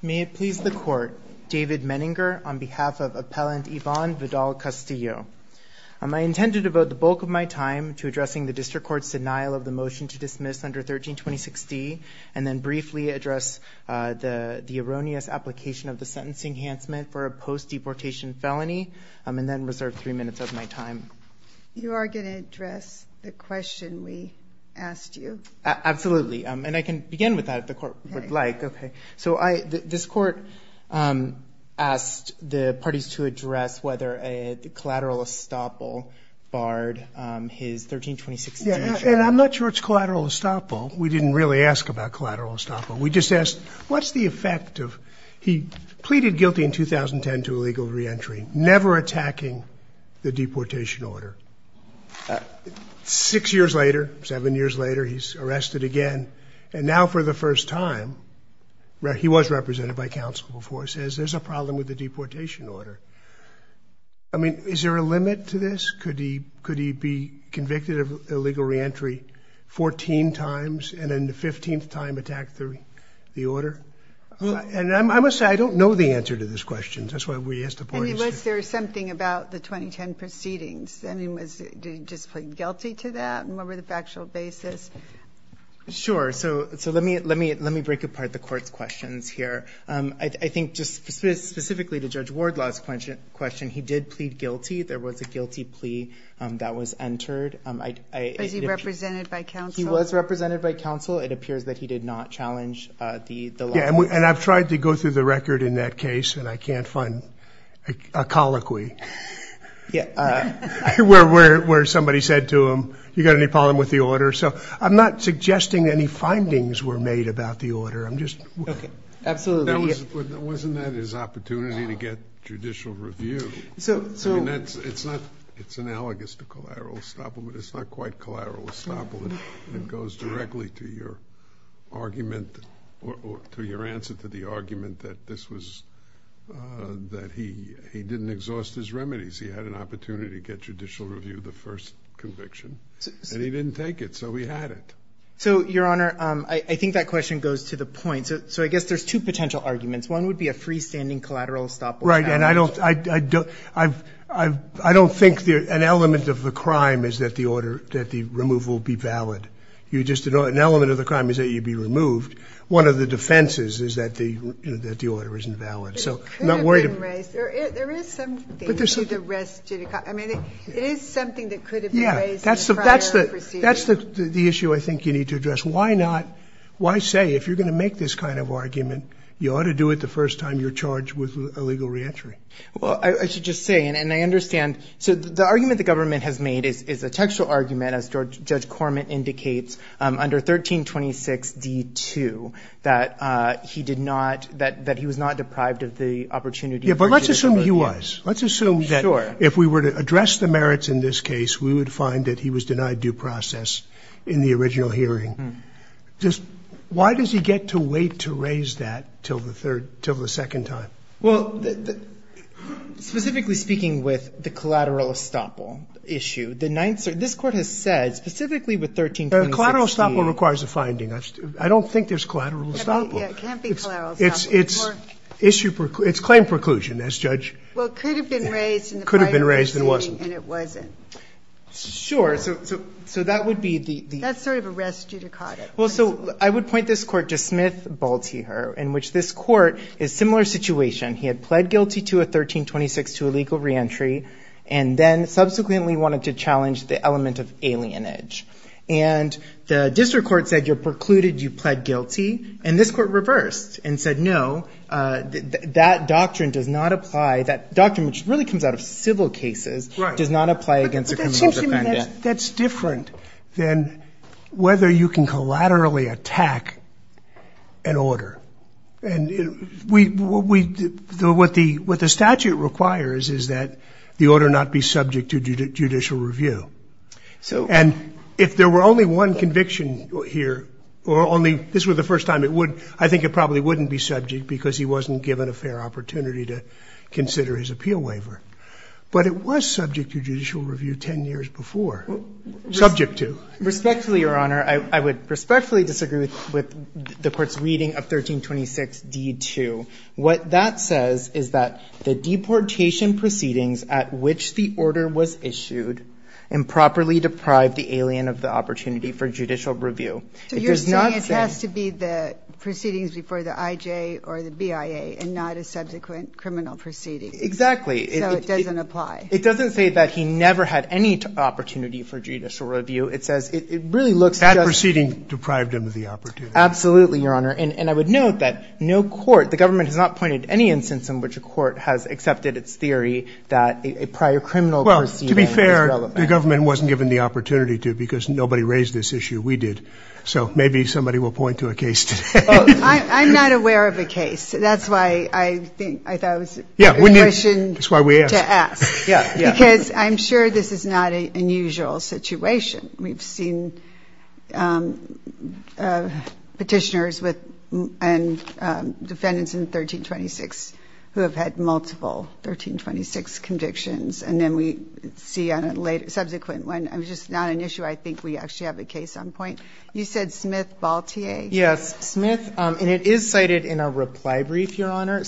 May it please the Court, David Menninger on behalf of Appellant Ivan Vidal-Castillo. I intend to devote the bulk of my time to addressing the District Court's denial of the motion to dismiss under 13-2060 and then briefly address the erroneous application of the Sentencing Enhancement for a post-deportation felony and then reserve three minutes of my time. You are going to address the question we asked you? Absolutely, and I can begin with that if the Court would like. Okay. So this Court asked the parties to address whether a collateral estoppel barred his 13-2060. And I'm not sure it's collateral estoppel. We didn't really ask about collateral estoppel. We just asked what's the effect of he pleaded guilty in 2010 to illegal reentry, never attacking the deportation order. Six years later, seven years later, he's arrested again. And now for the first time, he was represented by counsel before. He says there's a problem with the deportation order. I mean, is there a limit to this? Could he be convicted of illegal reentry 14 times and then the 15th time attack the order? And I must say I don't know the answer to this question. That's why we asked the parties. I mean, was there something about the 2010 proceedings? I mean, did he just plead guilty to that? And what were the factual basis? Sure. So let me break apart the Court's questions here. I think just specifically to Judge Wardlaw's question, he did plead guilty. There was a guilty plea that was entered. Was he represented by counsel? He was represented by counsel. It appears that he did not challenge the law. Yeah, and I've tried to go through the record in that case, and I can't find a colloquy. Yeah. Where somebody said to him, you got any problem with the order? So I'm not suggesting any findings were made about the order. I'm just... Absolutely. Wasn't that his opportunity to get judicial review? So... I mean, it's analogous to collateral estoppel, but it's not quite collateral estoppel. It goes directly to your argument or to your answer to the argument that this was, that he didn't exhaust his remedies. He had an opportunity to get judicial review of the first conviction, and he didn't take it, so he had it. So, Your Honor, I think that question goes to the point. So I guess there's two potential arguments. One would be a freestanding collateral estoppel. Right, and I don't think an element of the crime is that the order, that the removal be valid. You just, an element of the crime is that you be removed. One of the defenses is that the order isn't valid. So I'm not worried... It could have been raised. There is something to the rest of the... But there's... I mean, it is something that could have been raised in the prior procedure. Yeah, that's the issue I think you need to address. Why say, if you're going to make this kind of argument, you ought to do it the first time you're charged with illegal reentry? Well, I should just say, and I understand... So the argument the government has made is a textual argument, as Judge Corman indicates, under 1326d.2, that he did not, that he was not deprived of the opportunity... Yeah, but let's assume he was. Let's assume that... Sure. Just, why does he get to wait to raise that till the third, till the second time? Well, specifically speaking with the collateral estoppel issue, the ninth... This Court has said, specifically with 1326d... Collateral estoppel requires a finding. I don't think there's collateral estoppel. Yeah, it can't be collateral estoppel. It's claim preclusion, as Judge... Well, it could have been raised in the prior... Could have been raised and wasn't. And it wasn't. Sure. So that would be the... That's sort of a res judicata. Well, so I would point this Court to Smith-Balteher, in which this Court is similar situation. He had pled guilty to a 1326.2 illegal reentry and then subsequently wanted to challenge the element of alienage. And the district court said, you're precluded, you pled guilty. And this Court reversed and said, no, that doctrine does not apply. That doctrine, which really comes out of civil cases... Right.... does not apply against a criminal defendant. Well, I mean, that's different than whether you can collaterally attack an order. And what the statute requires is that the order not be subject to judicial review. So... And if there were only one conviction here or only... this was the first time it would... I think it probably wouldn't be subject because he wasn't given a fair opportunity to consider his appeal waiver. But it was subject to judicial review 10 years before. Subject to. Respectfully, Your Honor, I would respectfully disagree with the Court's reading of 1326.d.2. What that says is that the deportation proceedings at which the order was issued improperly deprived the alien of the opportunity for judicial review. It does not say... So you're saying it has to be the proceedings before the IJ or the BIA and not a subsequent criminal proceeding. Exactly. So it doesn't apply. It doesn't say that he never had any opportunity for judicial review. It says it really looks just... That proceeding deprived him of the opportunity. Absolutely, Your Honor. And I would note that no court... the government has not pointed to any instance in which a court has accepted its theory that a prior criminal proceeding was relevant. Well, to be fair, the government wasn't given the opportunity to because nobody raised this issue. We did. So maybe somebody will point to a case today. I'm not aware of a case. That's why I think... I thought it was... Yeah. A question to ask. Yeah. Because I'm sure this is not an unusual situation. We've seen petitioners and defendants in 1326 who have had multiple 1326 convictions and then we see on a subsequent one. It's just not an issue. I think we actually have a case on point. You said Smith-Baltier? Yes. Smith. And it is cited in our reply brief, Your Honor.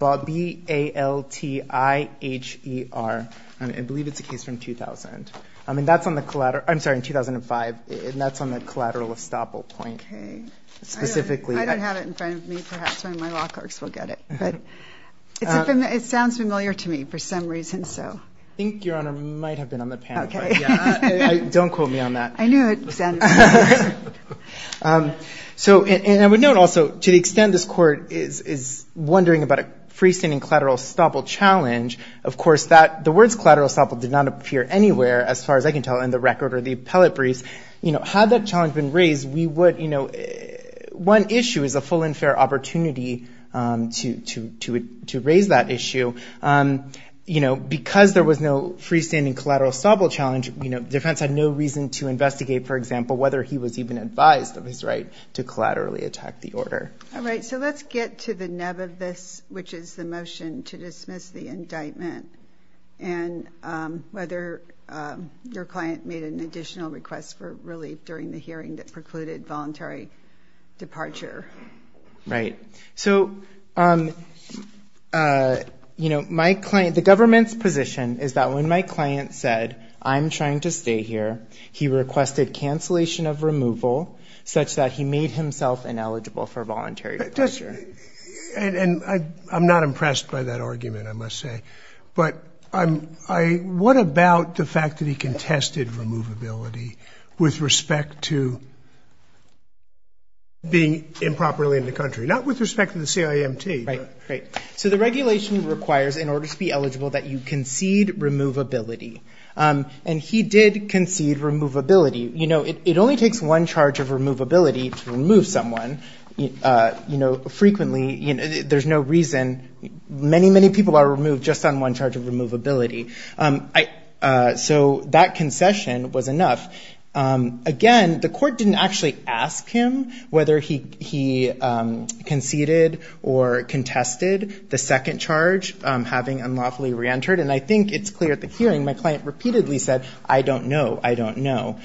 B-A-L-T-I-H-E-R. I believe it's a case from 2000. I mean, that's on the collateral... I'm sorry, in 2005. And that's on the collateral estoppel point. Okay. Specifically... I don't have it in front of me. Perhaps one of my law clerks will get it. But it sounds familiar to me for some reason, so... I think, Your Honor, it might have been on the panel. Okay. Don't quote me on that. I knew it sounded familiar. And I would note also, to the extent this Court is wondering about a freestanding collateral estoppel challenge, of course the words collateral estoppel did not appear anywhere, as far as I can tell, in the record or the appellate briefs. Had that challenge been raised, we would... One issue is a full and fair opportunity to raise that issue. Because there was no freestanding collateral estoppel challenge, the defense had no reason to investigate, for example, whether he was even advised of his right to collaterally attack the order. All right. So let's get to the nub of this, which is the motion to dismiss the indictment. And whether your client made an additional request for relief during the hearing that precluded voluntary departure. Right. So, you know, my client... The government's position is that when my client said, I'm trying to stay here, he requested cancellation of removal such that he made himself ineligible for voluntary departure. And I'm not impressed by that argument, I must say. But what about the fact that he contested removability with respect to being improperly in the country? Not with respect to the CIMT. Right. So the regulation requires, in order to be eligible, that you concede removability. And he did concede removability. You know, it only takes one charge of removability to remove someone frequently. There's no reason. Many, many people are removed just on one charge of removability. So that concession was enough. Again, the court didn't actually ask him whether he conceded or contested the second charge, having unlawfully reentered. And I think it's clear at the hearing, my client repeatedly said, I don't know, I don't know.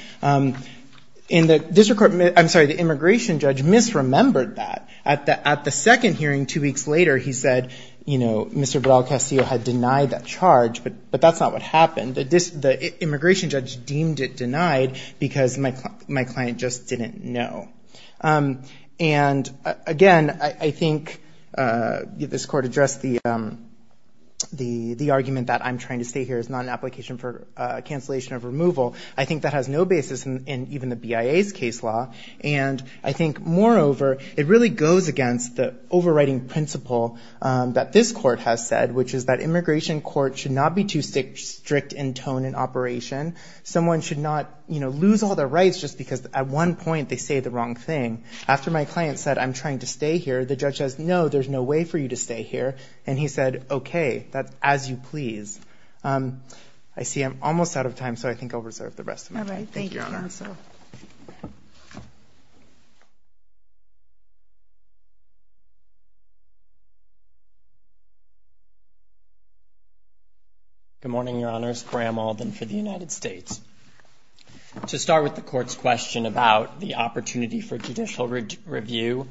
In the district court... I'm sorry, the immigration judge misremembered that. At the second hearing two weeks later, he said, you know, Mr. Baral-Castillo had denied that charge, but that's not what happened. The immigration judge deemed it denied because my client just didn't know. And, again, I think this court addressed the argument that I'm trying to stay here as not an application for cancellation of removal. I think that has no basis in even the BIA's case law. And I think, moreover, it really goes against the overriding principle that this court has said, which is that immigration court should not be too strict in tone and operation. Someone should not, you know, lose all their rights just because at one point they say the wrong thing. After my client said, I'm trying to stay here, the judge says, no, there's no way for you to stay here. And he said, okay, that's as you please. I see I'm almost out of time, so I think I'll reserve the rest of my time. Thank you, Your Honor. Good morning, Your Honors. Graham Alden for the United States. To start with the Court's question about the opportunity for judicial review,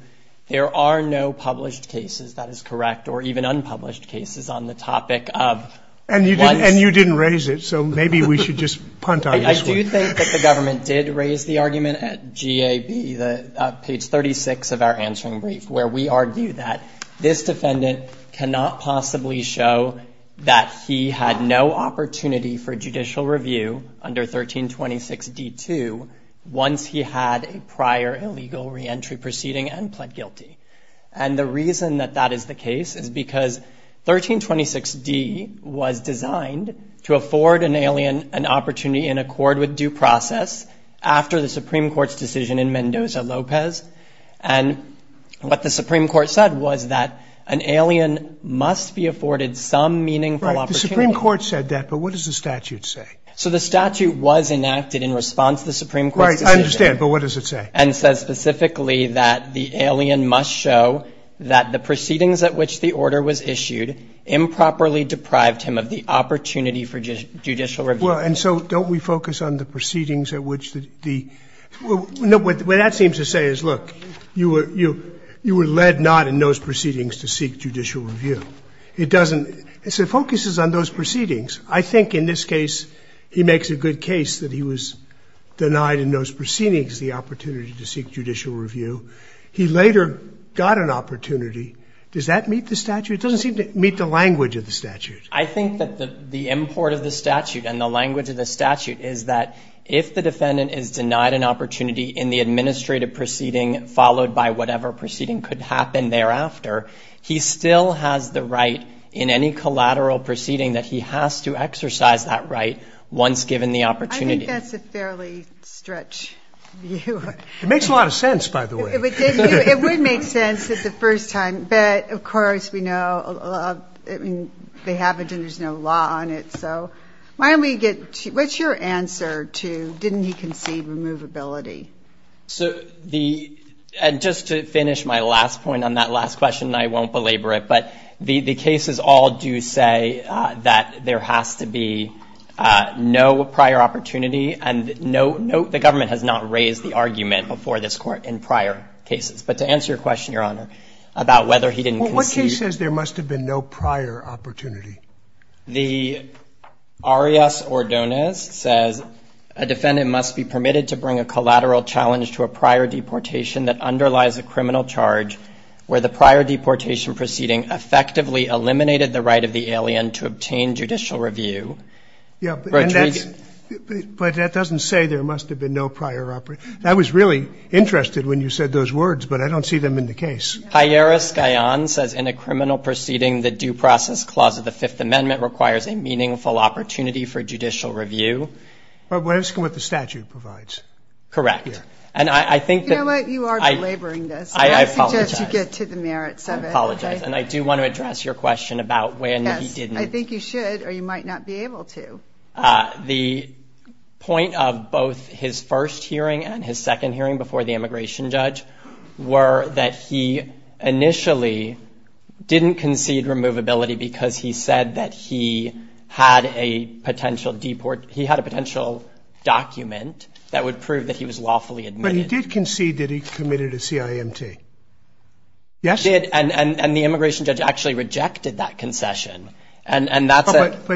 there are no published cases, that is correct, or even unpublished cases on the topic of what's the need for judicial review. And you didn't raise it, so maybe we should just punt on this one. I do think that the government did raise the argument at GAB, page 36 of our answering brief, where we argue that this defendant cannot possibly show that he had no opportunity for judicial review under 1326D-2 once he had a prior illegal reentry proceeding and pled guilty. And the reason that that is the case is because 1326D was designed to afford an alien an opportunity in accord with due process after the Supreme Court's decision in Mendoza-Lopez. And what the Supreme Court said was that an alien must be afforded some meaningful opportunity. Right. The Supreme Court said that, but what does the statute say? So the statute was enacted in response to the Supreme Court's decision. Right. I understand, but what does it say? And it says specifically that the alien must show that the proceedings at which the order was issued improperly deprived him of the opportunity for judicial review. Well, and so don't we focus on the proceedings at which the – What that seems to say is, look, you were led not in those proceedings to seek judicial review. It doesn't – it focuses on those proceedings. I think in this case he makes a good case that he was denied in those proceedings the opportunity to seek judicial review. He later got an opportunity. Does that meet the statute? It doesn't seem to meet the language of the statute. I think that the import of the statute and the language of the statute is that if the administrative proceeding followed by whatever proceeding could happen thereafter, he still has the right in any collateral proceeding that he has to exercise that right once given the opportunity. I think that's a fairly stretched view. It makes a lot of sense, by the way. It would make sense the first time. But, of course, we know they haven't and there's no law on it. So why don't we get – what's your answer to didn't he concede removability So the – and just to finish my last point on that last question, I won't belabor it, but the cases all do say that there has to be no prior opportunity and no – the government has not raised the argument before this Court in prior cases. But to answer your question, Your Honor, about whether he didn't concede. What case says there must have been no prior opportunity? The Arias-Ordonez says, A defendant must be permitted to bring a collateral challenge to a prior deportation that underlies a criminal charge where the prior deportation proceeding effectively eliminated the right of the alien to obtain judicial review. Yeah, but that doesn't say there must have been no prior – I was really interested when you said those words, but I don't see them in the case. Jairus Gayan says, In a criminal proceeding, the due process clause of the Fifth Amendment requires a meaningful opportunity for judicial review. But we're asking what the statute provides. Correct. And I think that – You know what? You are belaboring this. I apologize. I suggest you get to the merits of it. I apologize. And I do want to address your question about when he didn't. Yes. I think you should or you might not be able to. The point of both his first hearing and his second hearing before the immigration judge were that he initially didn't concede removability because he said that he had a potential deport – he had a potential document that would prove that he was lawfully admitted. But he did concede that he committed a CIMT. Yes. He did. And the immigration judge actually rejected that concession. And that's a –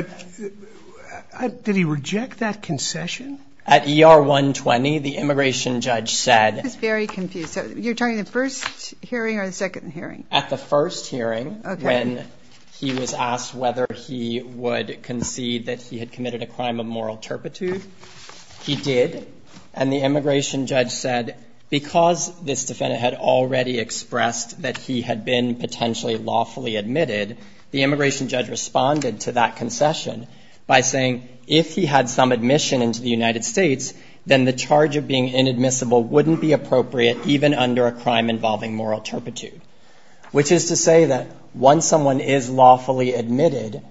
But did he reject that concession? At ER 120, the immigration judge said – I was very confused. So you're talking the first hearing or the second hearing? At the first hearing. Okay. When he was asked whether he would concede that he had committed a crime of moral turpitude, he did. And the immigration judge said because this defendant had already expressed that he had been potentially lawfully admitted, the immigration judge responded to that concession by saying if he had some admission into the United States, then the charge of being inadmissible is inappropriate even under a crime involving moral turpitude, which is to say that once someone is lawfully admitted,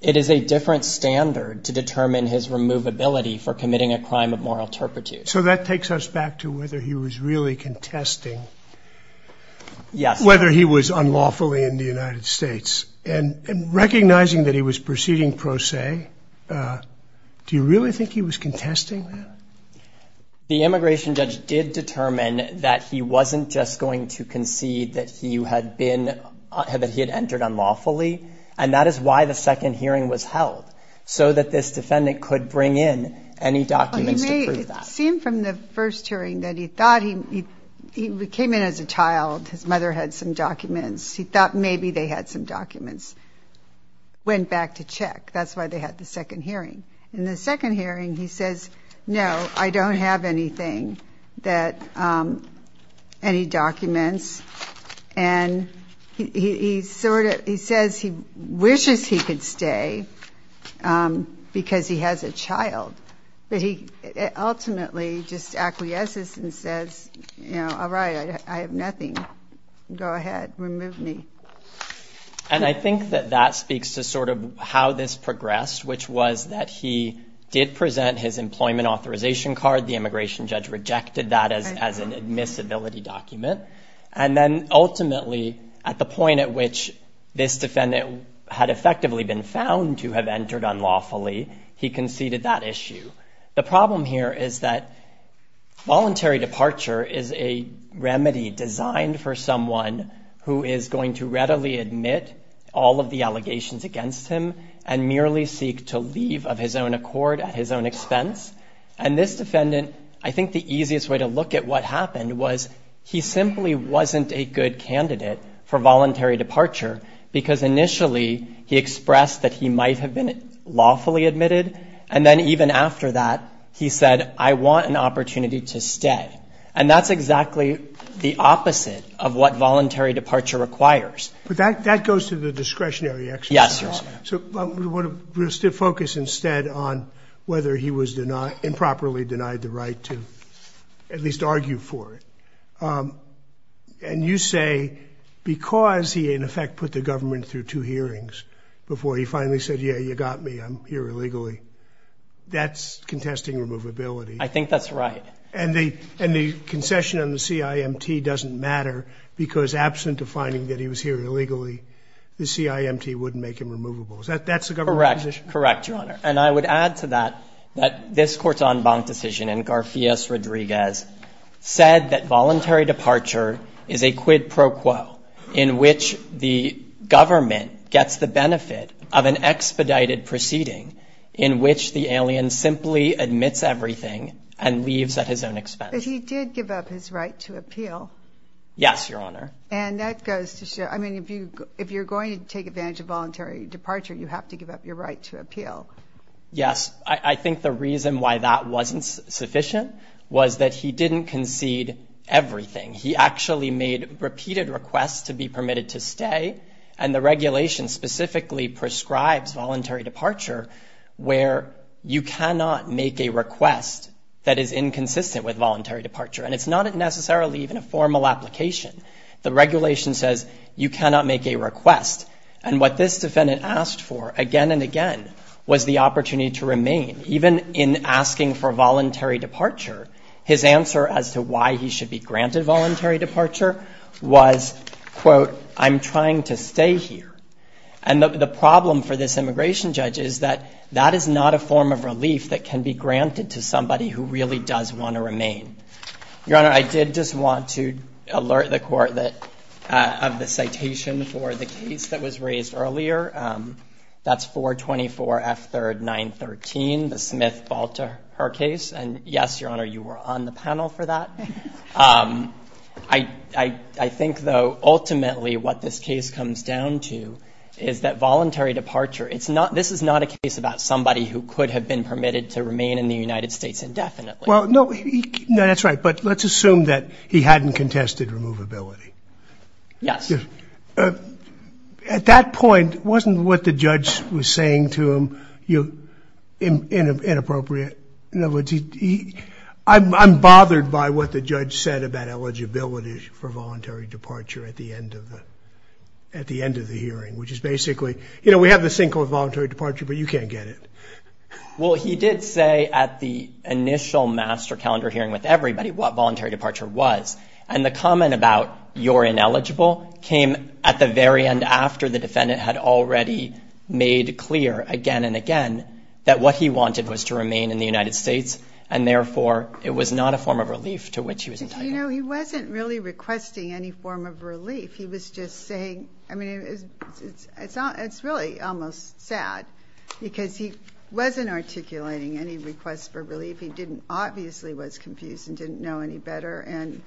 it is a different standard to determine his removability for committing a crime of moral turpitude. So that takes us back to whether he was really contesting – Yes. – whether he was unlawfully in the United States. And recognizing that he was proceeding pro se, do you really think he was contesting that? The immigration judge did determine that he wasn't just going to concede that he had been – that he had entered unlawfully, and that is why the second hearing was held, so that this defendant could bring in any documents to prove that. It seemed from the first hearing that he thought he – he came in as a child. His mother had some documents. He thought maybe they had some documents. Went back to check. That's why they had the second hearing. In the second hearing, he says, no, I don't have anything that – any documents. And he sort of – he says he wishes he could stay because he has a child. But he ultimately just acquiesces and says, you know, all right, I have nothing. Go ahead. Remove me. And I think that that speaks to sort of how this progressed, which was that he did present his employment authorization card. The immigration judge rejected that as an admissibility document. And then ultimately, at the point at which this defendant had effectively been found to have entered unlawfully, he conceded that issue. The problem here is that voluntary departure is a remedy designed for someone who is going to readily admit all of the allegations against him and merely seek to leave of his own accord at his own expense. And this defendant, I think the easiest way to look at what happened was he simply wasn't a good candidate for voluntary departure because initially he expressed that he might have been lawfully admitted. And then even after that, he said, I want an opportunity to stay. And that's exactly the opposite of what voluntary departure requires. But that goes to the discretionary exercise. Yes. So we'll focus instead on whether he was improperly denied the right to at least argue for it. And you say because he, in effect, put the government through two hearings before he finally said, yeah, you got me, I'm here illegally, that's contesting removability. I think that's right. And the concession on the CIMT doesn't matter because, absent the finding that he was here illegally, the CIMT wouldn't make him removable. That's the government's position? Correct. Correct, Your Honor. And I would add to that that this Corton Bonk decision in Garcias-Rodriguez said that voluntary departure is a quid pro quo in which the government gets the benefit of an expedited proceeding in which the alien simply admits everything and leaves at his own expense. But he did give up his right to appeal. Yes, Your Honor. And that goes to show, I mean, if you're going to take advantage of voluntary departure, you have to give up your right to appeal. Yes. I think the reason why that wasn't sufficient was that he didn't concede everything. He actually made repeated requests to be permitted to stay, and the regulation specifically prescribes voluntary departure where you cannot make a request that is inconsistent with voluntary departure. And it's not necessarily even a formal application. The regulation says you cannot make a request. And what this defendant asked for again and again was the opportunity to remain. Even in asking for voluntary departure, his answer as to why he should be granted voluntary departure was, quote, I'm trying to stay here. And the problem for this immigration judge is that that is not a form of relief that can be granted to somebody who really does want to remain. Your Honor, I did just want to alert the Court of the citation for the case that was raised earlier. That's 424F3R913, the Smith-Volter case. And, yes, Your Honor, you were on the panel for that. I think, though, ultimately what this case comes down to is that voluntary departure, this is not a case about somebody who could have been permitted to remain in the United States indefinitely. Well, no, that's right. But let's assume that he hadn't contested removability. Yes. At that point, wasn't what the judge was saying to him inappropriate? I'm bothered by what the judge said about eligibility for voluntary departure at the end of the hearing, which is basically, you know, we have this thing called voluntary departure, but you can't get it. Well, he did say at the initial master calendar hearing with everybody what voluntary departure was. And the comment about you're ineligible came at the very end after the defendant had already made clear again and again that what he wanted was to remain in the United States, and therefore it was not a form of relief to which he was entitled. You know, he wasn't really requesting any form of relief. He was just saying, I mean, it's really almost sad, because he wasn't articulating any requests for relief. He obviously was confused and didn't know any better. And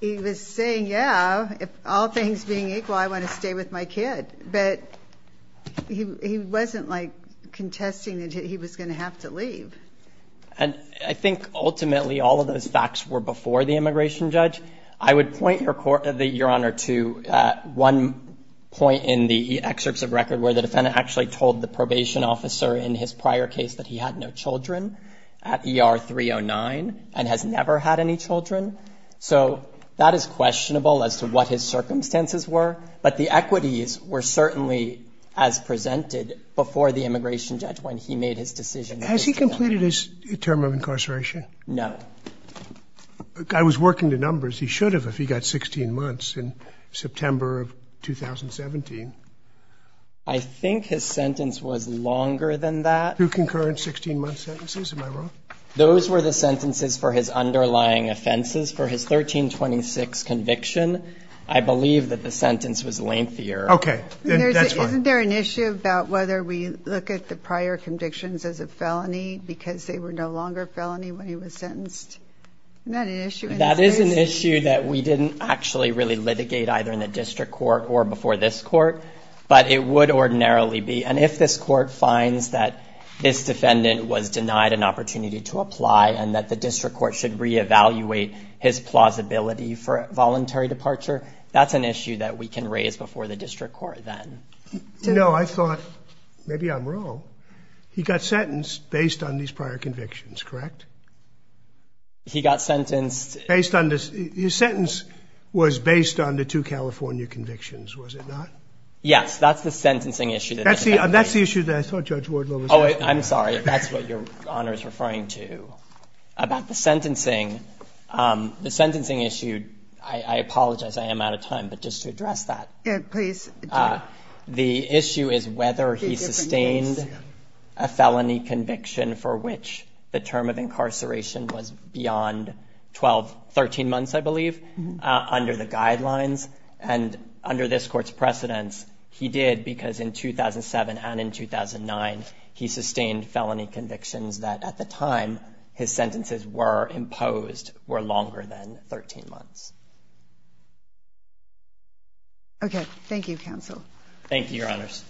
he was saying, yeah, if all things being equal, I want to stay with my kid. But he wasn't, like, contesting that he was going to have to leave. And I think ultimately all of those facts were before the immigration judge. I would point, Your Honor, to one point in the excerpts of record where the defendant actually told the probation officer in his prior case that he had no children at ER 309 and has never had any children. So that is questionable as to what his circumstances were. But the equities were certainly as presented before the immigration judge when he made his decision. Has he completed his term of incarceration? No. I was working the numbers. He should have if he got 16 months in September of 2017. I think his sentence was longer than that. Two concurrent 16-month sentences. Am I wrong? Those were the sentences for his underlying offenses for his 1326 conviction. I believe that the sentence was lengthier. Okay. That's fine. Isn't there an issue about whether we look at the prior convictions as a felony because they were no longer felony when he was sentenced? Isn't that an issue in this case? That is an issue that we didn't actually really litigate either in the district court or before this court. But it would ordinarily be. And if this court finds that this defendant was denied an opportunity to apply and that the district court should reevaluate his plausibility for voluntary departure, that's an issue that we can raise before the district court then. You know, I thought maybe I'm wrong. He got sentenced based on these prior convictions, correct? He got sentenced. His sentence was based on the two California convictions, was it not? Yes. That's the sentencing issue. That's the issue that I thought Judge Wardlow was asking. Oh, I'm sorry. That's what Your Honor is referring to. About the sentencing, the sentencing issue, I apologize. I am out of time. But just to address that. Please. The issue is whether he sustained a felony conviction for which the term of incarceration was beyond 12, 13 months, I believe, under the guidelines. And under this court's precedence, he did because in 2007 and in 2009, he sustained felony convictions that at the time his sentences were imposed were longer than 13 months. Okay. Thank you, counsel. Thank you, Your Honors.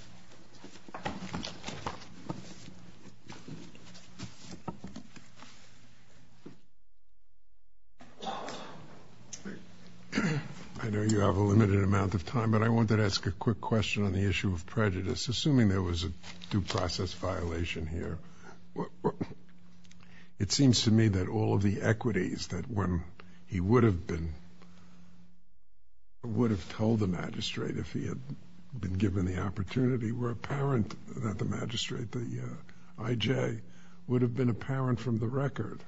I know you have a limited amount of time, but I wanted to ask a quick question on the issue of prejudice. Assuming there was a due process violation here, it seems to me that all of the equities that when he would have been, would have told the magistrate if he had been given the opportunity were apparent, that the magistrate, the IJ, would have been apparent from the record.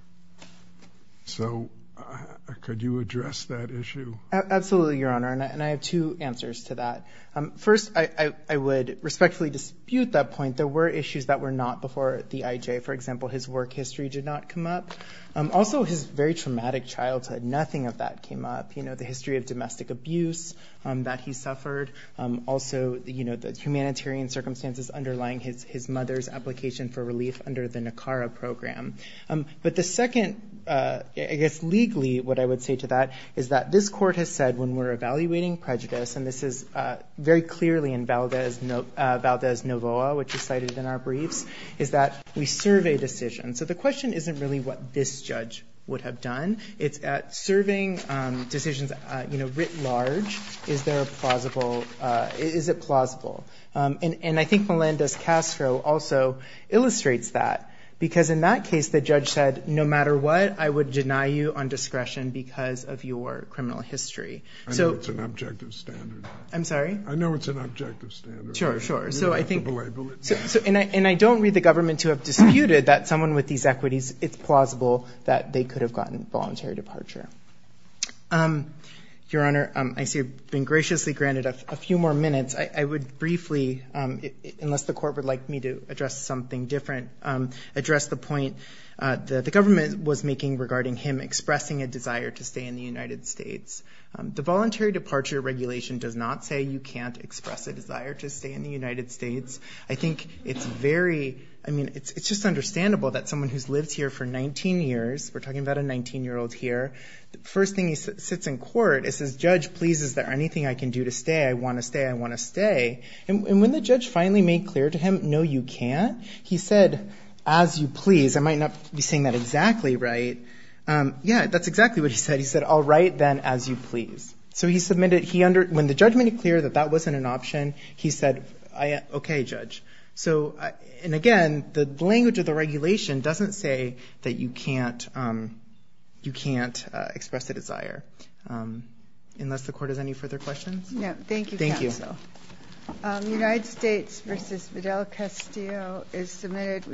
So could you address that issue? Absolutely, Your Honor. And I have two answers to that. First, I would respectfully dispute that point. There were issues that were not before the IJ. For example, his work history did not come up. Also, his very traumatic childhood, nothing of that came up. The history of domestic abuse that he suffered. Also, the humanitarian circumstances underlying his mother's application for relief under the NACARA program. But the second, I guess legally, what I would say to that, is that this court has said when we're evaluating prejudice, and this is very clearly in Valdez-Novoa, which is cited in our briefs, is that we survey decisions. So the question isn't really what this judge would have done. It's at serving decisions, you know, writ large, is it plausible? And I think Melendez-Castro also illustrates that. Because in that case, the judge said, no matter what, I would deny you on discretion because of your criminal history. I know it's an objective standard. I'm sorry? I know it's an objective standard. Sure, sure. And I don't read the government to have disputed that someone with these equities, it's plausible that they could have gotten voluntary departure. Your Honor, I see you've been graciously granted a few more minutes. I would briefly, unless the court would like me to address something different, address the point that the government was making regarding him expressing a desire to stay in the United States. The voluntary departure regulation does not say you can't express a desire to stay in the United States. I think it's very, I mean, it's just understandable that someone who's lived here for 19 years, we're talking about a 19-year-old here, the first thing he sits in court, it says, judge, please, is there anything I can do to stay? I want to stay. I want to stay. And when the judge finally made clear to him, no, you can't, he said, as you please. I might not be saying that exactly right. Yeah, that's exactly what he said. He said, all right, then, as you please. So he submitted, when the judgment made clear that that wasn't an option, he said, okay, judge. So, and again, the language of the regulation doesn't say that you can't express a desire. Unless the court has any further questions? No, thank you, counsel. Thank you. United States v. Fidel Castillo is submitted.